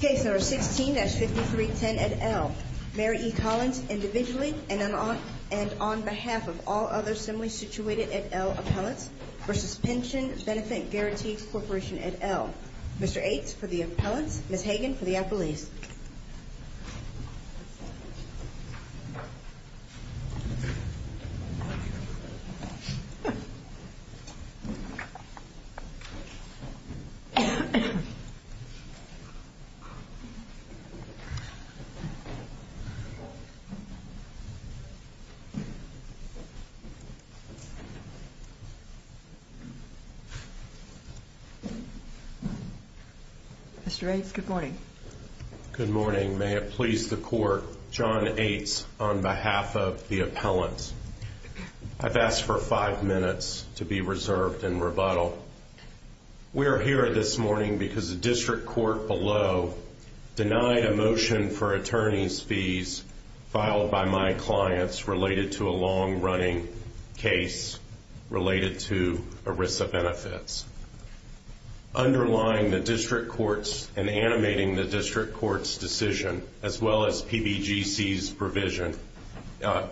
Case number 16-5310 at L. Mary E. Collins individually and on behalf of all other similarly situated at L appellants for suspension benefit guaranteed corporation at L. Mr. Akes for the appellants, Ms. Hagen for the appellees. Mr. Akes, good morning. Good morning. May it please the court, John Akes on behalf of the appellants. I've asked for five minutes to be reserved in rebuttal. We are here this morning because the district court below denied a motion for attorney's fees filed by my clients related to a long-running case related to ERISA benefits. Underlying the district court's and animating the district court's decision, as well as PBGC's provision,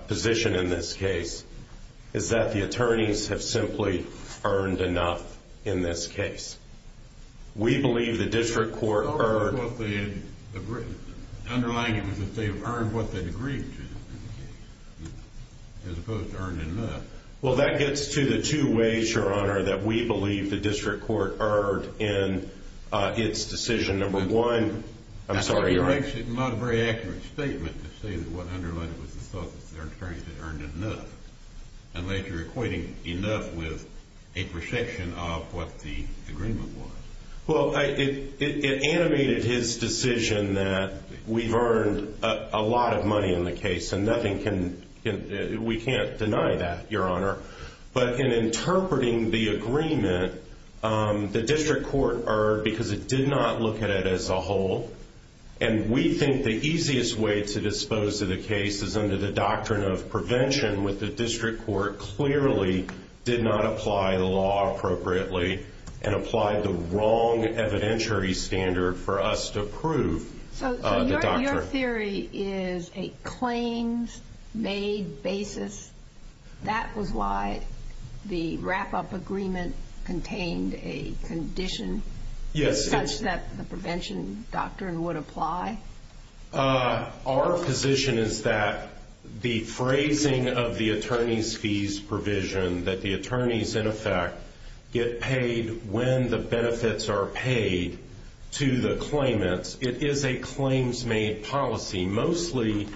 position in this case, is that the attorneys have simply earned enough in this case. We believe the district court earned... Underlying it was that they've earned what they'd agreed to, as opposed to earned enough. Well, that gets to the two ways, Your Honor, that we believe the district court earned in its decision. Number one... I'm sorry, Your Honor. That's not a very accurate statement to say that what underlined it was the thought that the attorneys had earned enough, unless you're equating enough with a perception of what the agreement was. Well, it animated his decision that we've earned a lot of money in the case, and we can't deny that, Your Honor. But in interpreting the agreement, the district court earned because it did not look at it as a whole. And we think the easiest way to dispose of the case is under the doctrine of prevention, with the district court clearly did not apply the law appropriately and applied the wrong evidentiary standard for us to prove the doctrine. So your theory is a claims-made basis. That was why the wrap-up agreement contained a condition such that the prevention doctrine would apply? Our position is that the phrasing of the attorney's fees provision, that the attorneys, in effect, get paid when the benefits are paid to the claimants, it is a claims-made policy. Mostly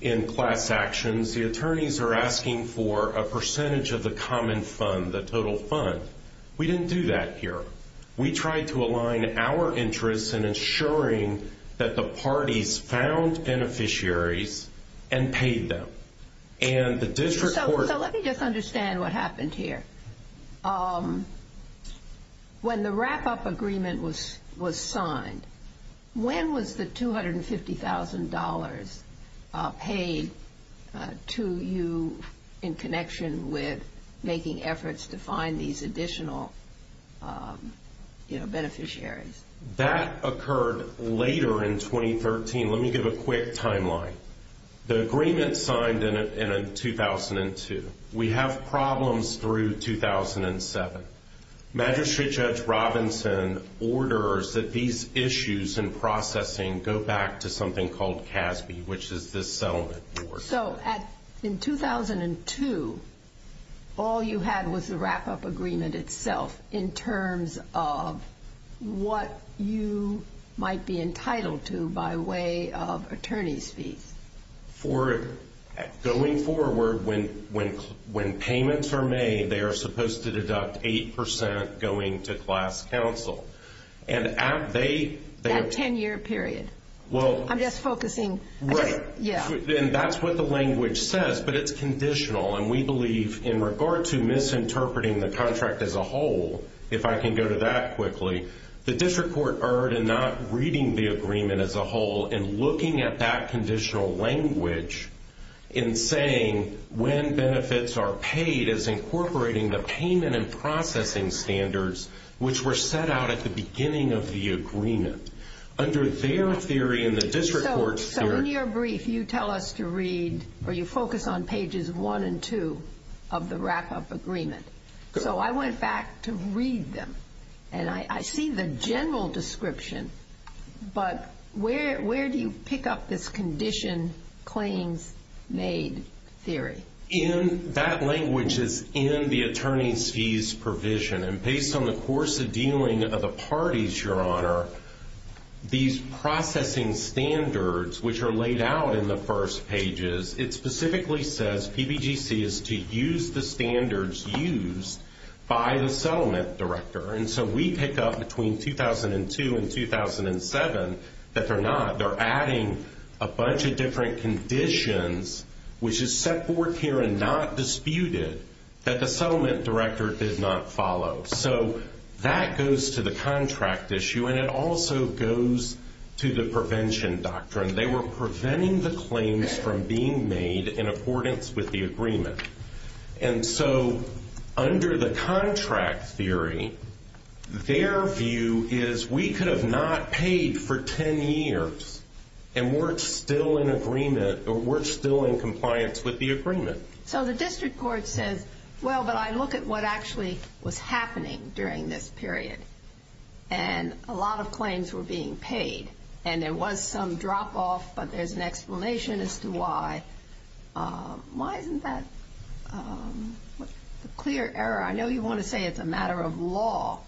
in class actions, the attorneys are asking for a percentage of the common fund, the total fund. We didn't do that here. We tried to align our interests in ensuring that the parties found beneficiaries and paid them. So let me just understand what happened here. When the wrap-up agreement was signed, when was the $250,000 paid to you in connection with making efforts to find these additional beneficiaries? That occurred later in 2013. Let me give a quick timeline. The agreement signed in 2002. We have problems through 2007. Magistrate Judge Robinson orders that these issues and processing go back to something called CASB, which is this settlement board. In 2002, all you had was the wrap-up agreement itself in terms of what you might be entitled to by way of attorney's fees. Going forward, when payments are made, they are supposed to deduct 8% going to class counsel. That 10-year period. I'm just focusing. Right. That's what the language says, but it's conditional. We believe in regard to misinterpreting the contract as a whole, if I can go to that quickly, the district court erred in not reading the agreement as a whole and looking at that conditional language and saying when benefits are paid is incorporating the payment and processing standards, which were set out at the beginning of the agreement. Under their theory and the district court's theory. In your brief, you tell us to read or you focus on pages 1 and 2 of the wrap-up agreement. I went back to read them. I see the general description, but where do you pick up this condition claims made theory? That language is in the attorney's fees provision. Based on the course of dealing of the parties, Your Honor, these processing standards, which are laid out in the first pages, it specifically says PBGC is to use the standards used by the settlement director. We pick up between 2002 and 2007 that they're not. They're adding a bunch of different conditions, which is set forth here and not disputed, that the settlement director did not follow. So that goes to the contract issue, and it also goes to the prevention doctrine. They were preventing the claims from being made in accordance with the agreement. And so under the contract theory, their view is we could have not paid for ten years and we're still in agreement or we're still in compliance with the agreement. So the district court says, well, but I look at what actually was happening during this period, and a lot of claims were being paid, and there was some drop-off, but there's an explanation as to why. Why isn't that a clear error? I know you want to say it's a matter of law.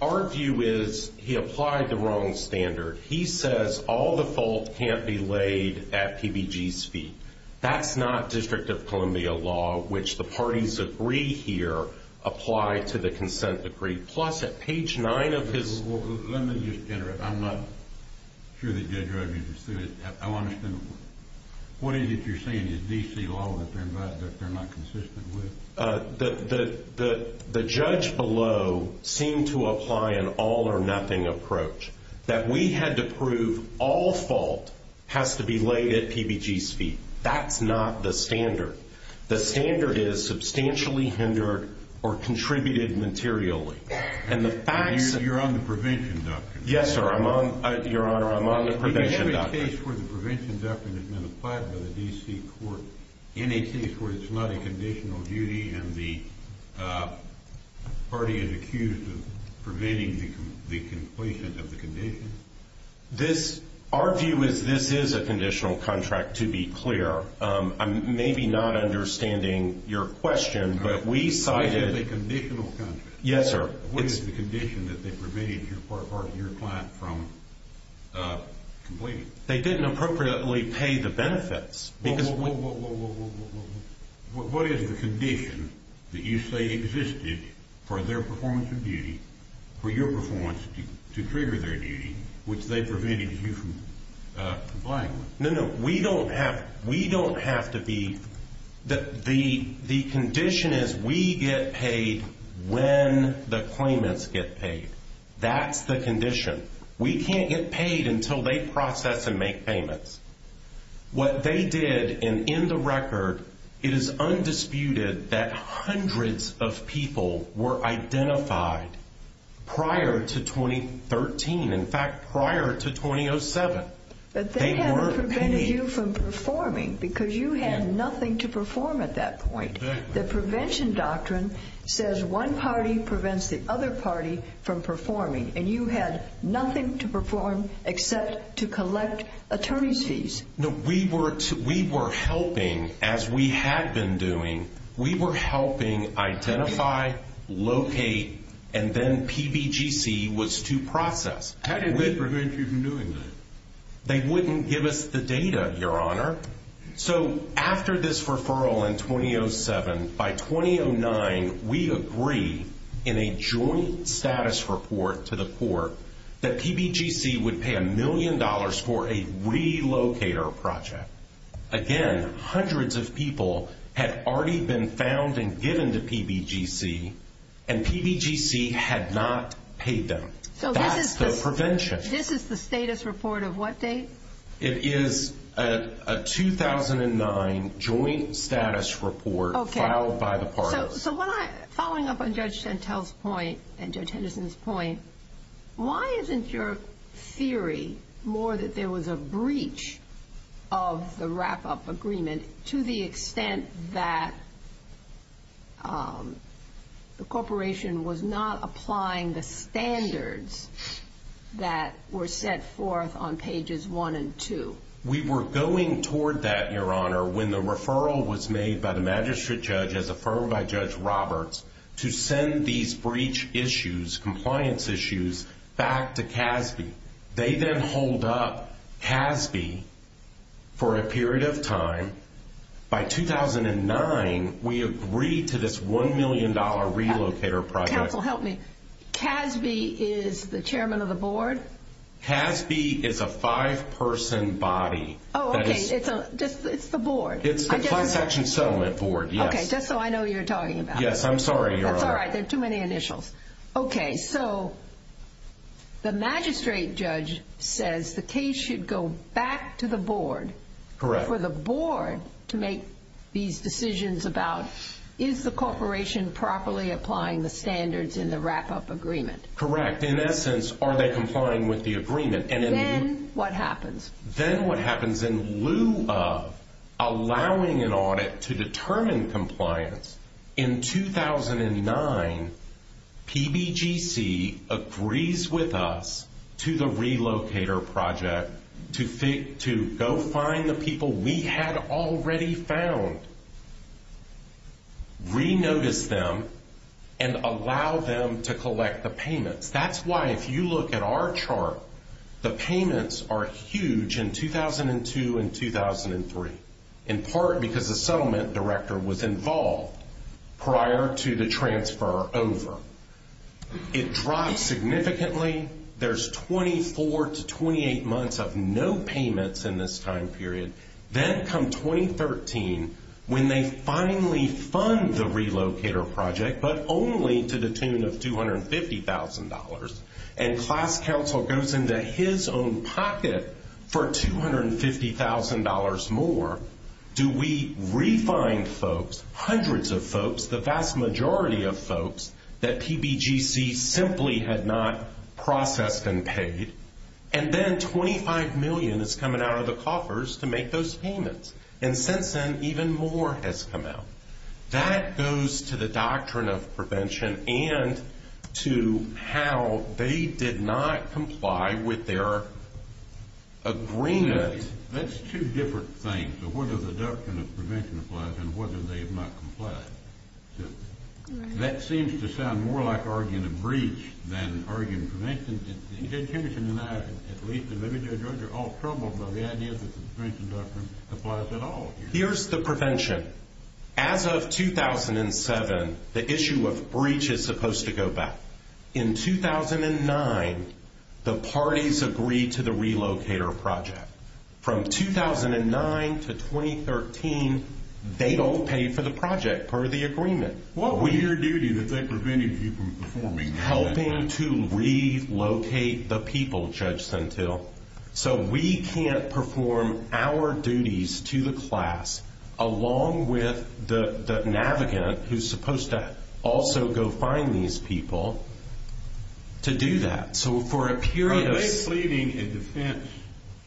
Our view is he applied the wrong standard. He says all the fault can't be laid at PBG's feet. That's not District of Columbia law, which the parties agree here apply to the consent decree. Plus at page 9 of his... Well, let me just interrupt. I'm not sure that Judge Roebuck understood it. I want to ask him a question. What is it you're saying is D.C. law that they're not consistent with? The judge below seemed to apply an all-or-nothing approach, that we had to prove all fault has to be laid at PBG's feet. That's not the standard. The standard is substantially hindered or contributed materially. And the facts... You're on the prevention doctrine. Yes, sir, I'm on... Your Honor, I'm on the prevention doctrine. You have a case where the prevention doctrine has been applied by the D.C. court in a case where it's not a conditional duty and the party is accused of preventing the completion of the condition? This... Our view is this is a conditional contract, to be clear. I'm maybe not understanding your question, but we cited... This is a conditional contract. Yes, sir. What is the condition that they prevented your client from completing? They didn't appropriately pay the benefits. What is the condition that you say existed for their performance of duty, for your performance to trigger their duty, which they prevented you from complying with? No, no. We don't have to be... The condition is we get paid when the claimants get paid. That's the condition. We can't get paid until they process and make payments. What they did, and in the record, it is undisputed that hundreds of people were identified prior to 2013. In fact, prior to 2007. But they haven't prevented you from performing because you had nothing to perform at that point. Exactly. The prevention doctrine says one party prevents the other party from performing, and you had nothing to perform except to collect attorney's fees. No, we were helping, as we had been doing. We were helping identify, locate, and then PBGC was to process. How did they prevent you from doing that? They wouldn't give us the data, Your Honor. So after this referral in 2007, by 2009, we agree in a joint status report to the court that PBGC would pay a million dollars for a relocator project. Again, hundreds of people had already been found and given to PBGC, and PBGC had not paid them. That's the prevention. This is the status report of what date? It is a 2009 joint status report filed by the parties. Following up on Judge Chantel's point and Judge Henderson's point, why isn't your theory more that there was a breach of the wrap-up agreement to the extent that the corporation was not applying the standards that were set forth on pages 1 and 2? We were going toward that, Your Honor, when the referral was made by the magistrate judge as affirmed by Judge Roberts to send these breach issues, compliance issues, back to CASB. They then holed up CASB for a period of time. By 2009, we agreed to this $1 million relocator project. Counsel, help me. CASB is the chairman of the board? CASB is a five-person body. Oh, okay, it's the board. It's the Planned Session Settlement Board, yes. Okay, just so I know who you're talking about. Yes, I'm sorry, Your Honor. That's all right, there are too many initials. Okay, so the magistrate judge says the case should go back to the board. Correct. For the board to make these decisions about is the corporation properly applying the standards in the wrap-up agreement? Correct. In essence, are they complying with the agreement? Then what happens? Then what happens, in lieu of allowing an audit to determine compliance, in 2009, PBGC agrees with us to the relocator project to go find the people we had already found, re-notice them, and allow them to collect the payments. That's why, if you look at our chart, the payments are huge in 2002 and 2003, in part because the settlement director was involved prior to the transfer over. It drops significantly. There's 24 to 28 months of no payments in this time period. Then, come 2013, when they finally fund the relocator project, but only to the tune of $250,000, and class counsel goes into his own pocket for $250,000 more, do we re-find folks, hundreds of folks, the vast majority of folks, that PBGC simply had not processed and paid? Then $25 million is coming out of the coffers to make those payments. Since then, even more has come out. That goes to the doctrine of prevention and to how they did not comply with their agreement. That's two different things, whether the doctrine of prevention applies and whether they have not complied. That seems to sound more like arguing a breach than arguing prevention. Ted Henderson and I, at least, and maybe Joe George, are all troubled by the idea that the prevention doctrine applies at all. Here's the prevention. As of 2007, the issue of breach is supposed to go back. In 2009, the parties agreed to the relocator project. From 2009 to 2013, they don't pay for the project per the agreement. What was your duty that they prevented you from performing? Helping to relocate the people, Judge Suntil. We can't perform our duties to the class, along with the navigant who's supposed to also go find these people, to do that. Are they pleading a defense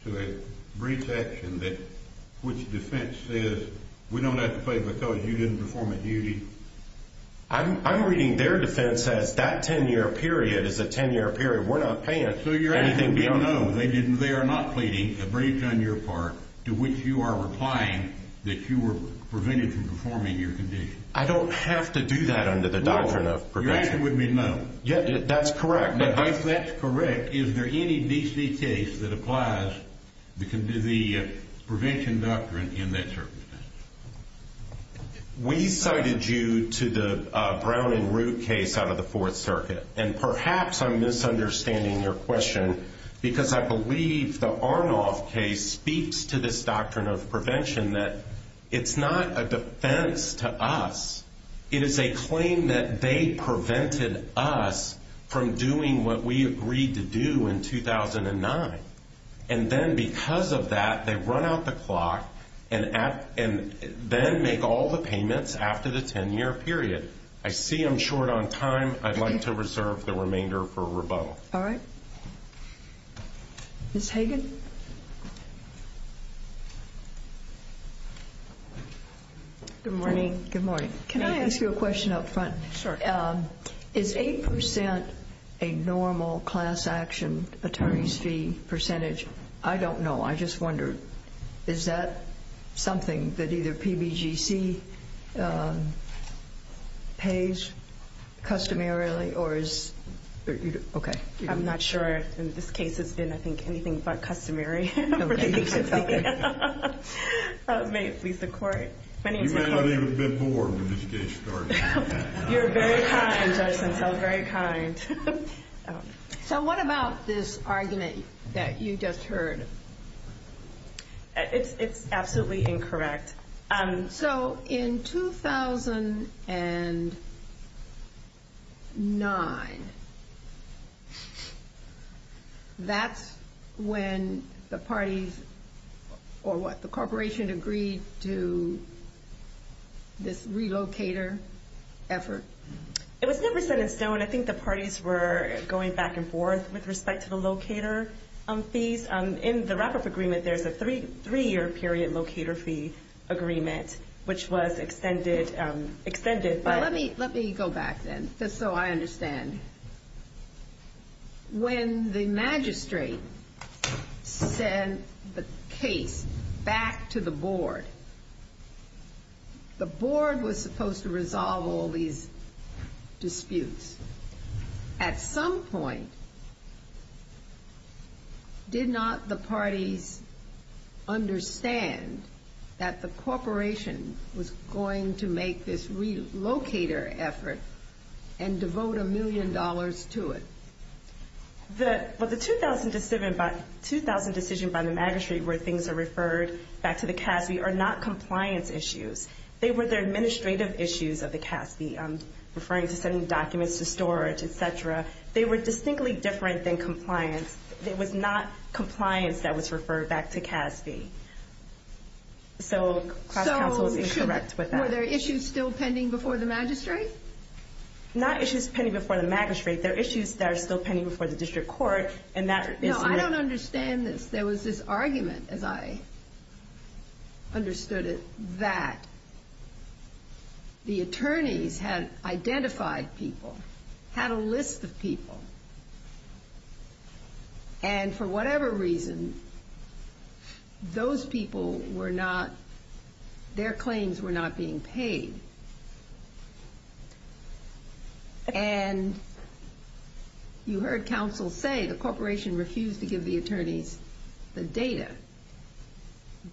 to a breach action that which defense says, we don't have to pay because you didn't perform a duty? I'm reading their defense as that 10-year period is a 10-year period. We're not paying anything beyond that. They are not pleading a breach on your part to which you are replying that you were prevented from performing your condition. I don't have to do that under the doctrine of prevention. Your answer would be no. That's correct. If that's correct, is there any DC case that applies to the prevention doctrine in that circumstance? We cited you to the Brown and Root case out of the Fourth Circuit. Perhaps I'm misunderstanding your question because I believe the Arnoff case speaks to this doctrine of prevention that it's not a defense to us. It is a claim that they prevented us from doing what we agreed to do in 2009. And then because of that, they run out the clock and then make all the payments after the 10-year period. I see I'm short on time. I'd like to reserve the remainder for rebuttal. All right. Ms. Hagan? Good morning. Good morning. Can I ask you a question up front? Sure. Is 8% a normal class action attorney's fee percentage? I don't know. I just wonder, is that something that either PBGC pays customarily or is it? Okay. I'm not sure. In this case, it's been, I think, anything but customary. May it please the court. You may not even have been born when this case started. You're very kind, Judge Simpson. Very kind. So what about this argument that you just heard? It's absolutely incorrect. So in 2009, that's when the parties or what, the corporation agreed to this relocator effort? It was never set in stone. I think the parties were going back and forth with respect to the locator fees. In the wrap-up agreement, there's a three-year period locator fee agreement, which was extended. Let me go back then, just so I understand. When the magistrate sent the case back to the board, the board was supposed to resolve all these disputes. At some point, did not the parties understand that the corporation was going to make this relocator effort and devote a million dollars to it? Well, the 2000 decision by the magistrate where things are referred back to the CASB are not compliance issues. They were the administrative issues of the CASB, referring to sending documents to storage, et cetera. They were distinctly different than compliance. It was not compliance that was referred back to CASB. So class counsel is incorrect with that. So were there issues still pending before the magistrate? Not issues pending before the magistrate. There are issues that are still pending before the district court, and that is... No, I don't understand this. There was this argument, as I understood it, that the attorneys had identified people, had a list of people. And for whatever reason, those people were not – their claims were not being paid. And you heard counsel say the corporation refused to give the attorneys the data.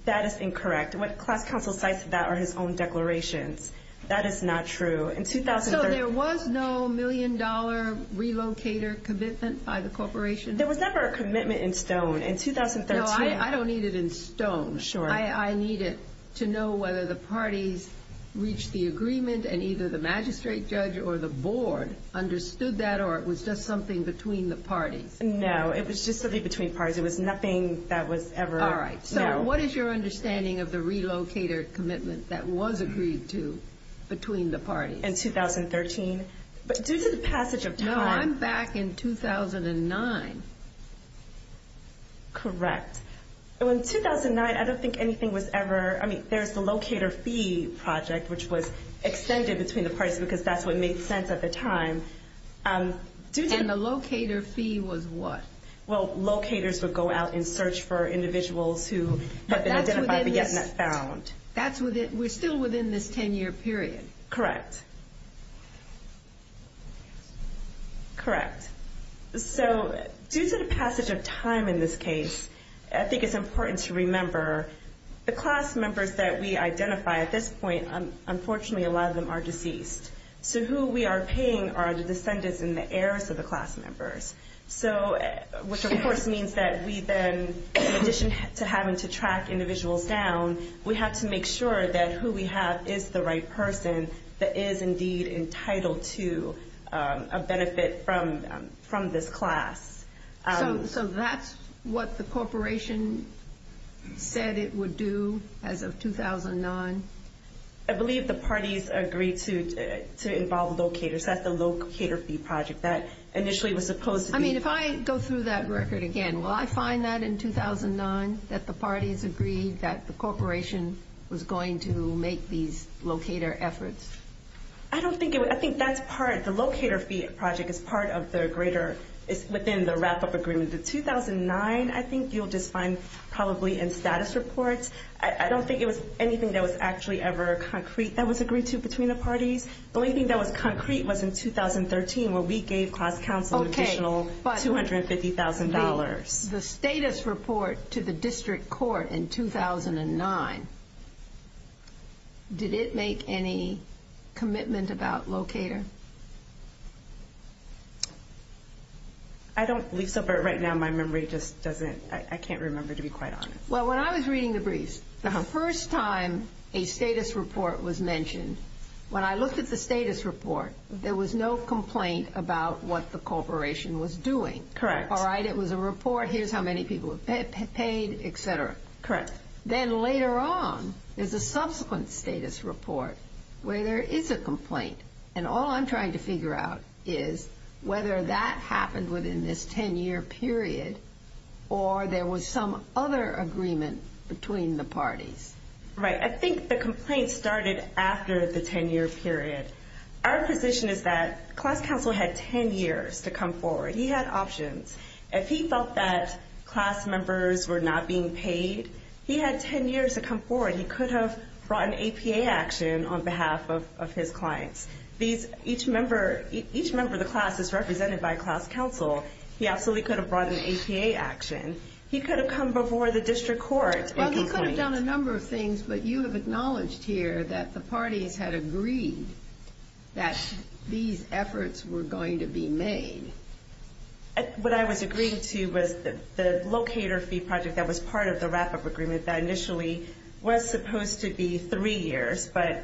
That is incorrect. What class counsel cites to that are his own declarations. That is not true. So there was no million-dollar relocator commitment by the corporation? There was never a commitment in stone. In 2013... No, I don't need it in stone. Sure. I need it to know whether the parties reached the agreement, and either the magistrate judge or the board understood that, or it was just something between the parties. No, it was just something between parties. It was nothing that was ever... All right. So what is your understanding of the relocator commitment that was agreed to between the parties? In 2013? Due to the passage of time... No, I'm back in 2009. Correct. In 2009, I don't think anything was ever – I mean, there's the locator fee project, which was extended between the parties because that's what made sense at the time. And the locator fee was what? Well, locators would go out and search for individuals who had been identified but yet not found. That's within – we're still within this 10-year period. Correct. Correct. So due to the passage of time in this case, I think it's important to remember the class members that we identify at this point, unfortunately a lot of them are deceased. So who we are paying are the descendants and the heirs of the class members, which of course means that we then, in addition to having to track individuals down, we have to make sure that who we have is the right person that is indeed entitled to a benefit from this class. So that's what the corporation said it would do as of 2009? I believe the parties agreed to involve locators at the locator fee project. That initially was supposed to be... I mean, if I go through that record again, will I find that in 2009 that the parties agreed that the corporation was going to make these locator efforts? I don't think it would. I think that's part – the locator fee project is part of the greater – is within the wrap-up agreement. The 2009, I think you'll just find probably in status reports. I don't think it was anything that was actually ever concrete that was agreed to between the parties. The only thing that was concrete was in 2013 where we gave class counsel an additional $250,000. The status report to the district court in 2009, did it make any commitment about locator? I don't believe so, but right now my memory just doesn't – I can't remember to be quite honest. Well, when I was reading the briefs, the first time a status report was mentioned, when I looked at the status report, there was no complaint about what the corporation was doing. Correct. All right, it was a report. Here's how many people were paid, et cetera. Correct. Then later on, there's a subsequent status report where there is a complaint, and all I'm trying to figure out is whether that happened within this 10-year period or there was some other agreement between the parties. Right. I think the complaint started after the 10-year period. Our position is that class counsel had 10 years to come forward. He had options. If he felt that class members were not being paid, he had 10 years to come forward. He could have brought an APA action on behalf of his clients. Each member of the class is represented by a class counsel. He absolutely could have brought an APA action. He could have come before the district court. Well, he could have done a number of things, but you have acknowledged here that the parties had agreed that these efforts were going to be made. What I was agreeing to was the locator fee project that was part of the wrap-up agreement that initially was supposed to be three years, but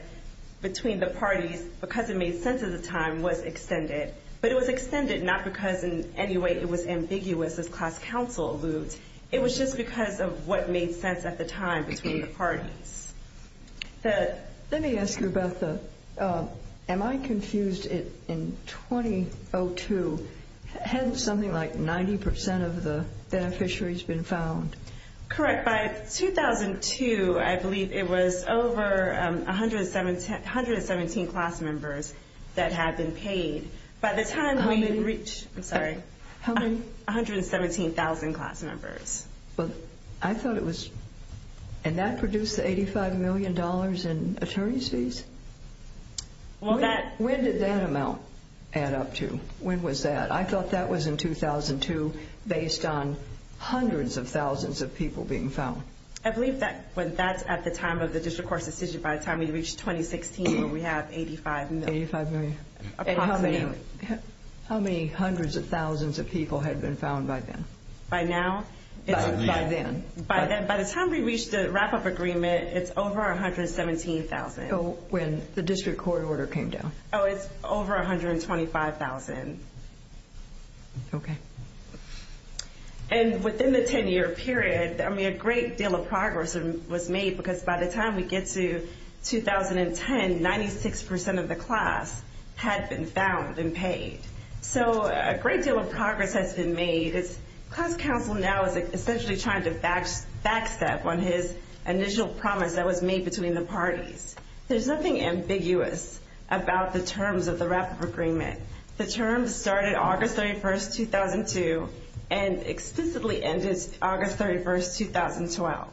between the parties, because it made sense at the time, was extended. But it was extended not because in any way it was ambiguous as class counsel moved. It was just because of what made sense at the time between the parties. Let me ask you, Betha. Am I confused? In 2002, hadn't something like 90% of the beneficiaries been found? Correct. By 2002, I believe it was over 117 class members that had been paid. How many? I'm sorry. How many? 117,000 class members. Well, I thought it was, and that produced the $85 million in attorney's fees? When did that amount add up to? When was that? I thought that was in 2002 based on hundreds of thousands of people being found. I believe that's at the time of the district court's decision by the time we reached 2016, where we have $85 million. $85 million. Approximately. How many hundreds of thousands of people had been found by then? By now? By then. By then. By the time we reached the wrap-up agreement, it's over 117,000. Oh, when the district court order came down. Oh, it's over 125,000. Okay. And within the 10-year period, I mean, a great deal of progress was made because by the time we get to 2010, 96% of the class had been found and paid. So a great deal of progress has been made. Class council now is essentially trying to backstep on his initial promise that was made between the parties. There's nothing ambiguous about the terms of the wrap-up agreement. The terms started August 31, 2002 and explicitly ended August 31, 2012.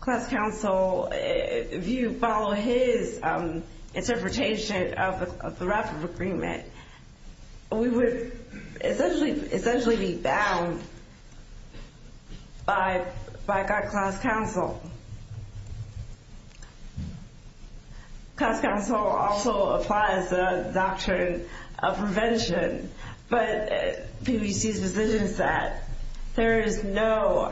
Class council, if you follow his interpretation of the wrap-up agreement, we would essentially be bound by class council. Class council also applies the doctrine of prevention, but PBC's position is that there is no...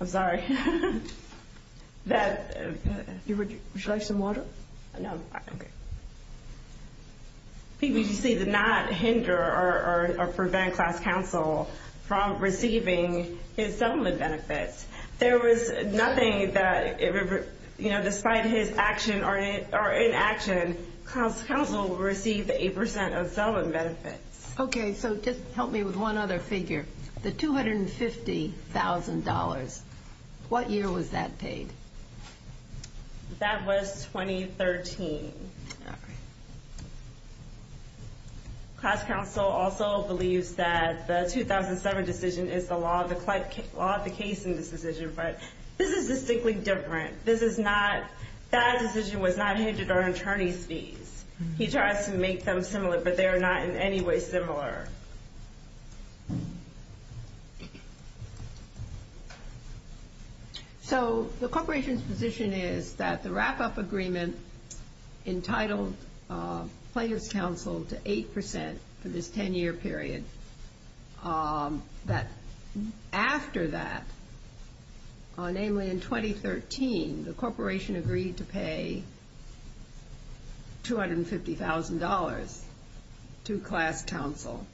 I'm sorry. Would you like some water? No. Okay. PBC did not hinder or prevent class council from receiving his settlement benefits. There was nothing that, you know, despite his action or inaction, class council received 8% of settlement benefits. Okay, so just help me with one other figure. The $250,000, what year was that paid? That was 2013. All right. Class council also believes that the 2007 decision is the law of the case in this decision, but this is distinctly different. That decision was not hindered on attorney's fees. He tries to make them similar, but they are not in any way similar. Sure. So the corporation's position is that the wrap-up agreement entitled plaintiff's counsel to 8% for this 10-year period, that after that, namely in 2013, the corporation agreed to pay $250,000 to class council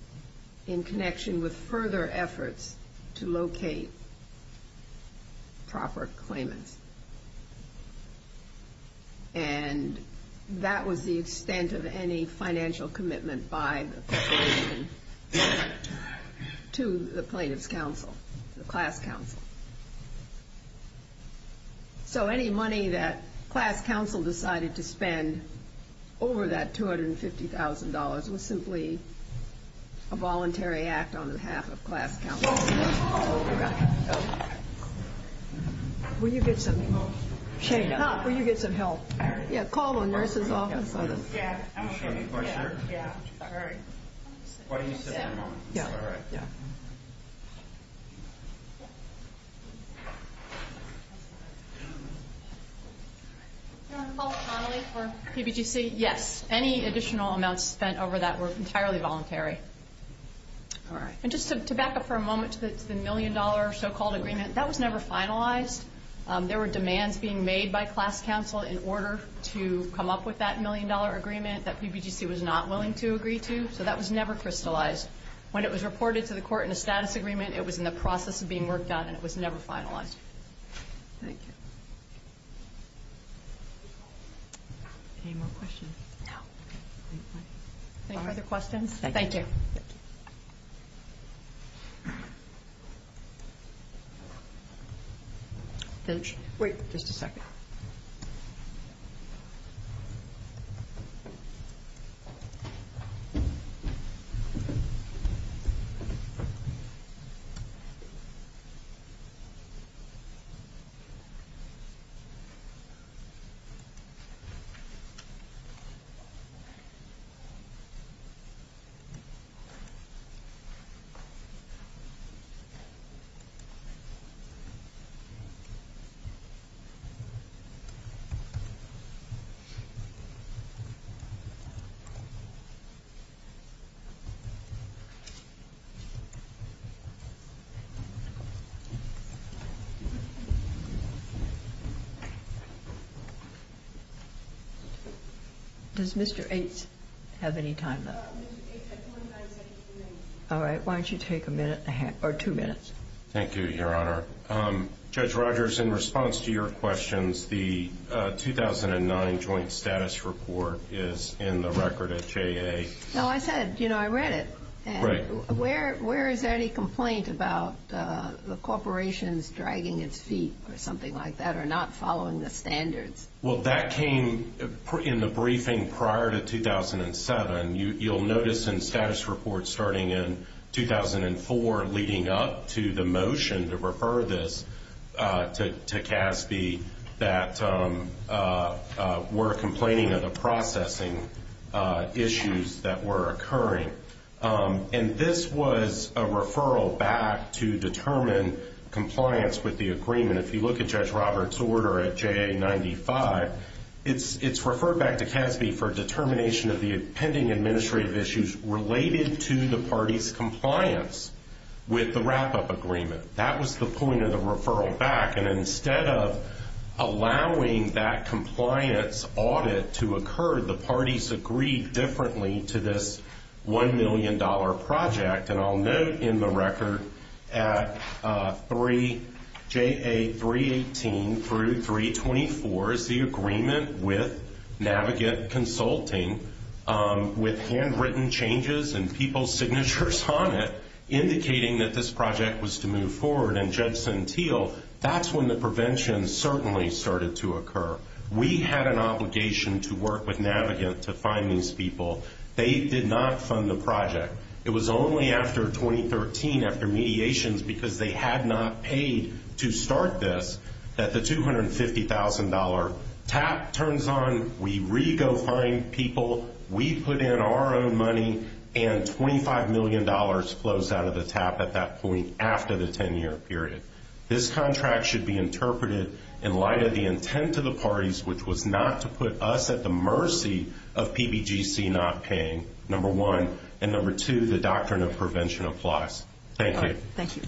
in connection with further efforts to locate proper claimants. And that was the extent of any financial commitment by the corporation to the plaintiff's counsel, the class council. So any money that class council decided to spend over that $250,000 was simply a voluntary act on behalf of class council. All right. Will you get some help? Yeah, call the nurse's office. Do you have any questions? Yeah. All right. Why don't you sit down for a moment? Yeah. All right. Do you want to call Connolly for PBGC? Yes. Any additional amounts spent over that were entirely voluntary. All right. And just to back up for a moment to the million-dollar so-called agreement, that was never finalized. There were demands being made by class council in order to come up with that million-dollar agreement that PBGC was not willing to agree to. So that was never crystallized. When it was reported to the court in a status agreement, it was in the process of being worked on, and it was never finalized. Thank you. Any more questions? No. Any other questions? Thank you. Thank you. Wait just a second. Okay. Thank you. Does Mr. Ates have any time left? All right. Why don't you take a minute or two minutes? Thank you, Your Honor. Judge Rogers, in response to your questions, the 2009 Joint Status Report is in the record at JA. No, I said, you know, I read it. Right. Where is any complaint about the corporations dragging its feet or something like that or not following the standards? Well, that came in the briefing prior to 2007. You'll notice in status reports starting in 2004 leading up to the motion to refer this to CASB that we're complaining of the processing issues that were occurring. And this was a referral back to determine compliance with the agreement. If you look at Judge Roberts' order at JA95, it's referred back to CASB for determination of the pending administrative issues related to the party's compliance with the wrap-up agreement. That was the point of the referral back. And instead of allowing that compliance audit to occur, the parties agreed differently to this $1 million project. And I'll note in the record at JA318 through 324 is the agreement with Navigant Consulting with handwritten changes and people's signatures on it indicating that this project was to move forward. And Judge Sentille, that's when the prevention certainly started to occur. We had an obligation to work with Navigant to find these people. They did not fund the project. It was only after 2013, after mediations, because they had not paid to start this, that the $250,000 tap turns on, we re-go find people, we put in our own money, and $25 million flows out of the tap at that point after the 10-year period. This contract should be interpreted in light of the intent of the parties, which was not to put us at the mercy of PBGC not paying, number one. And number two, the doctrine of prevention applies. Thank you. Thank you.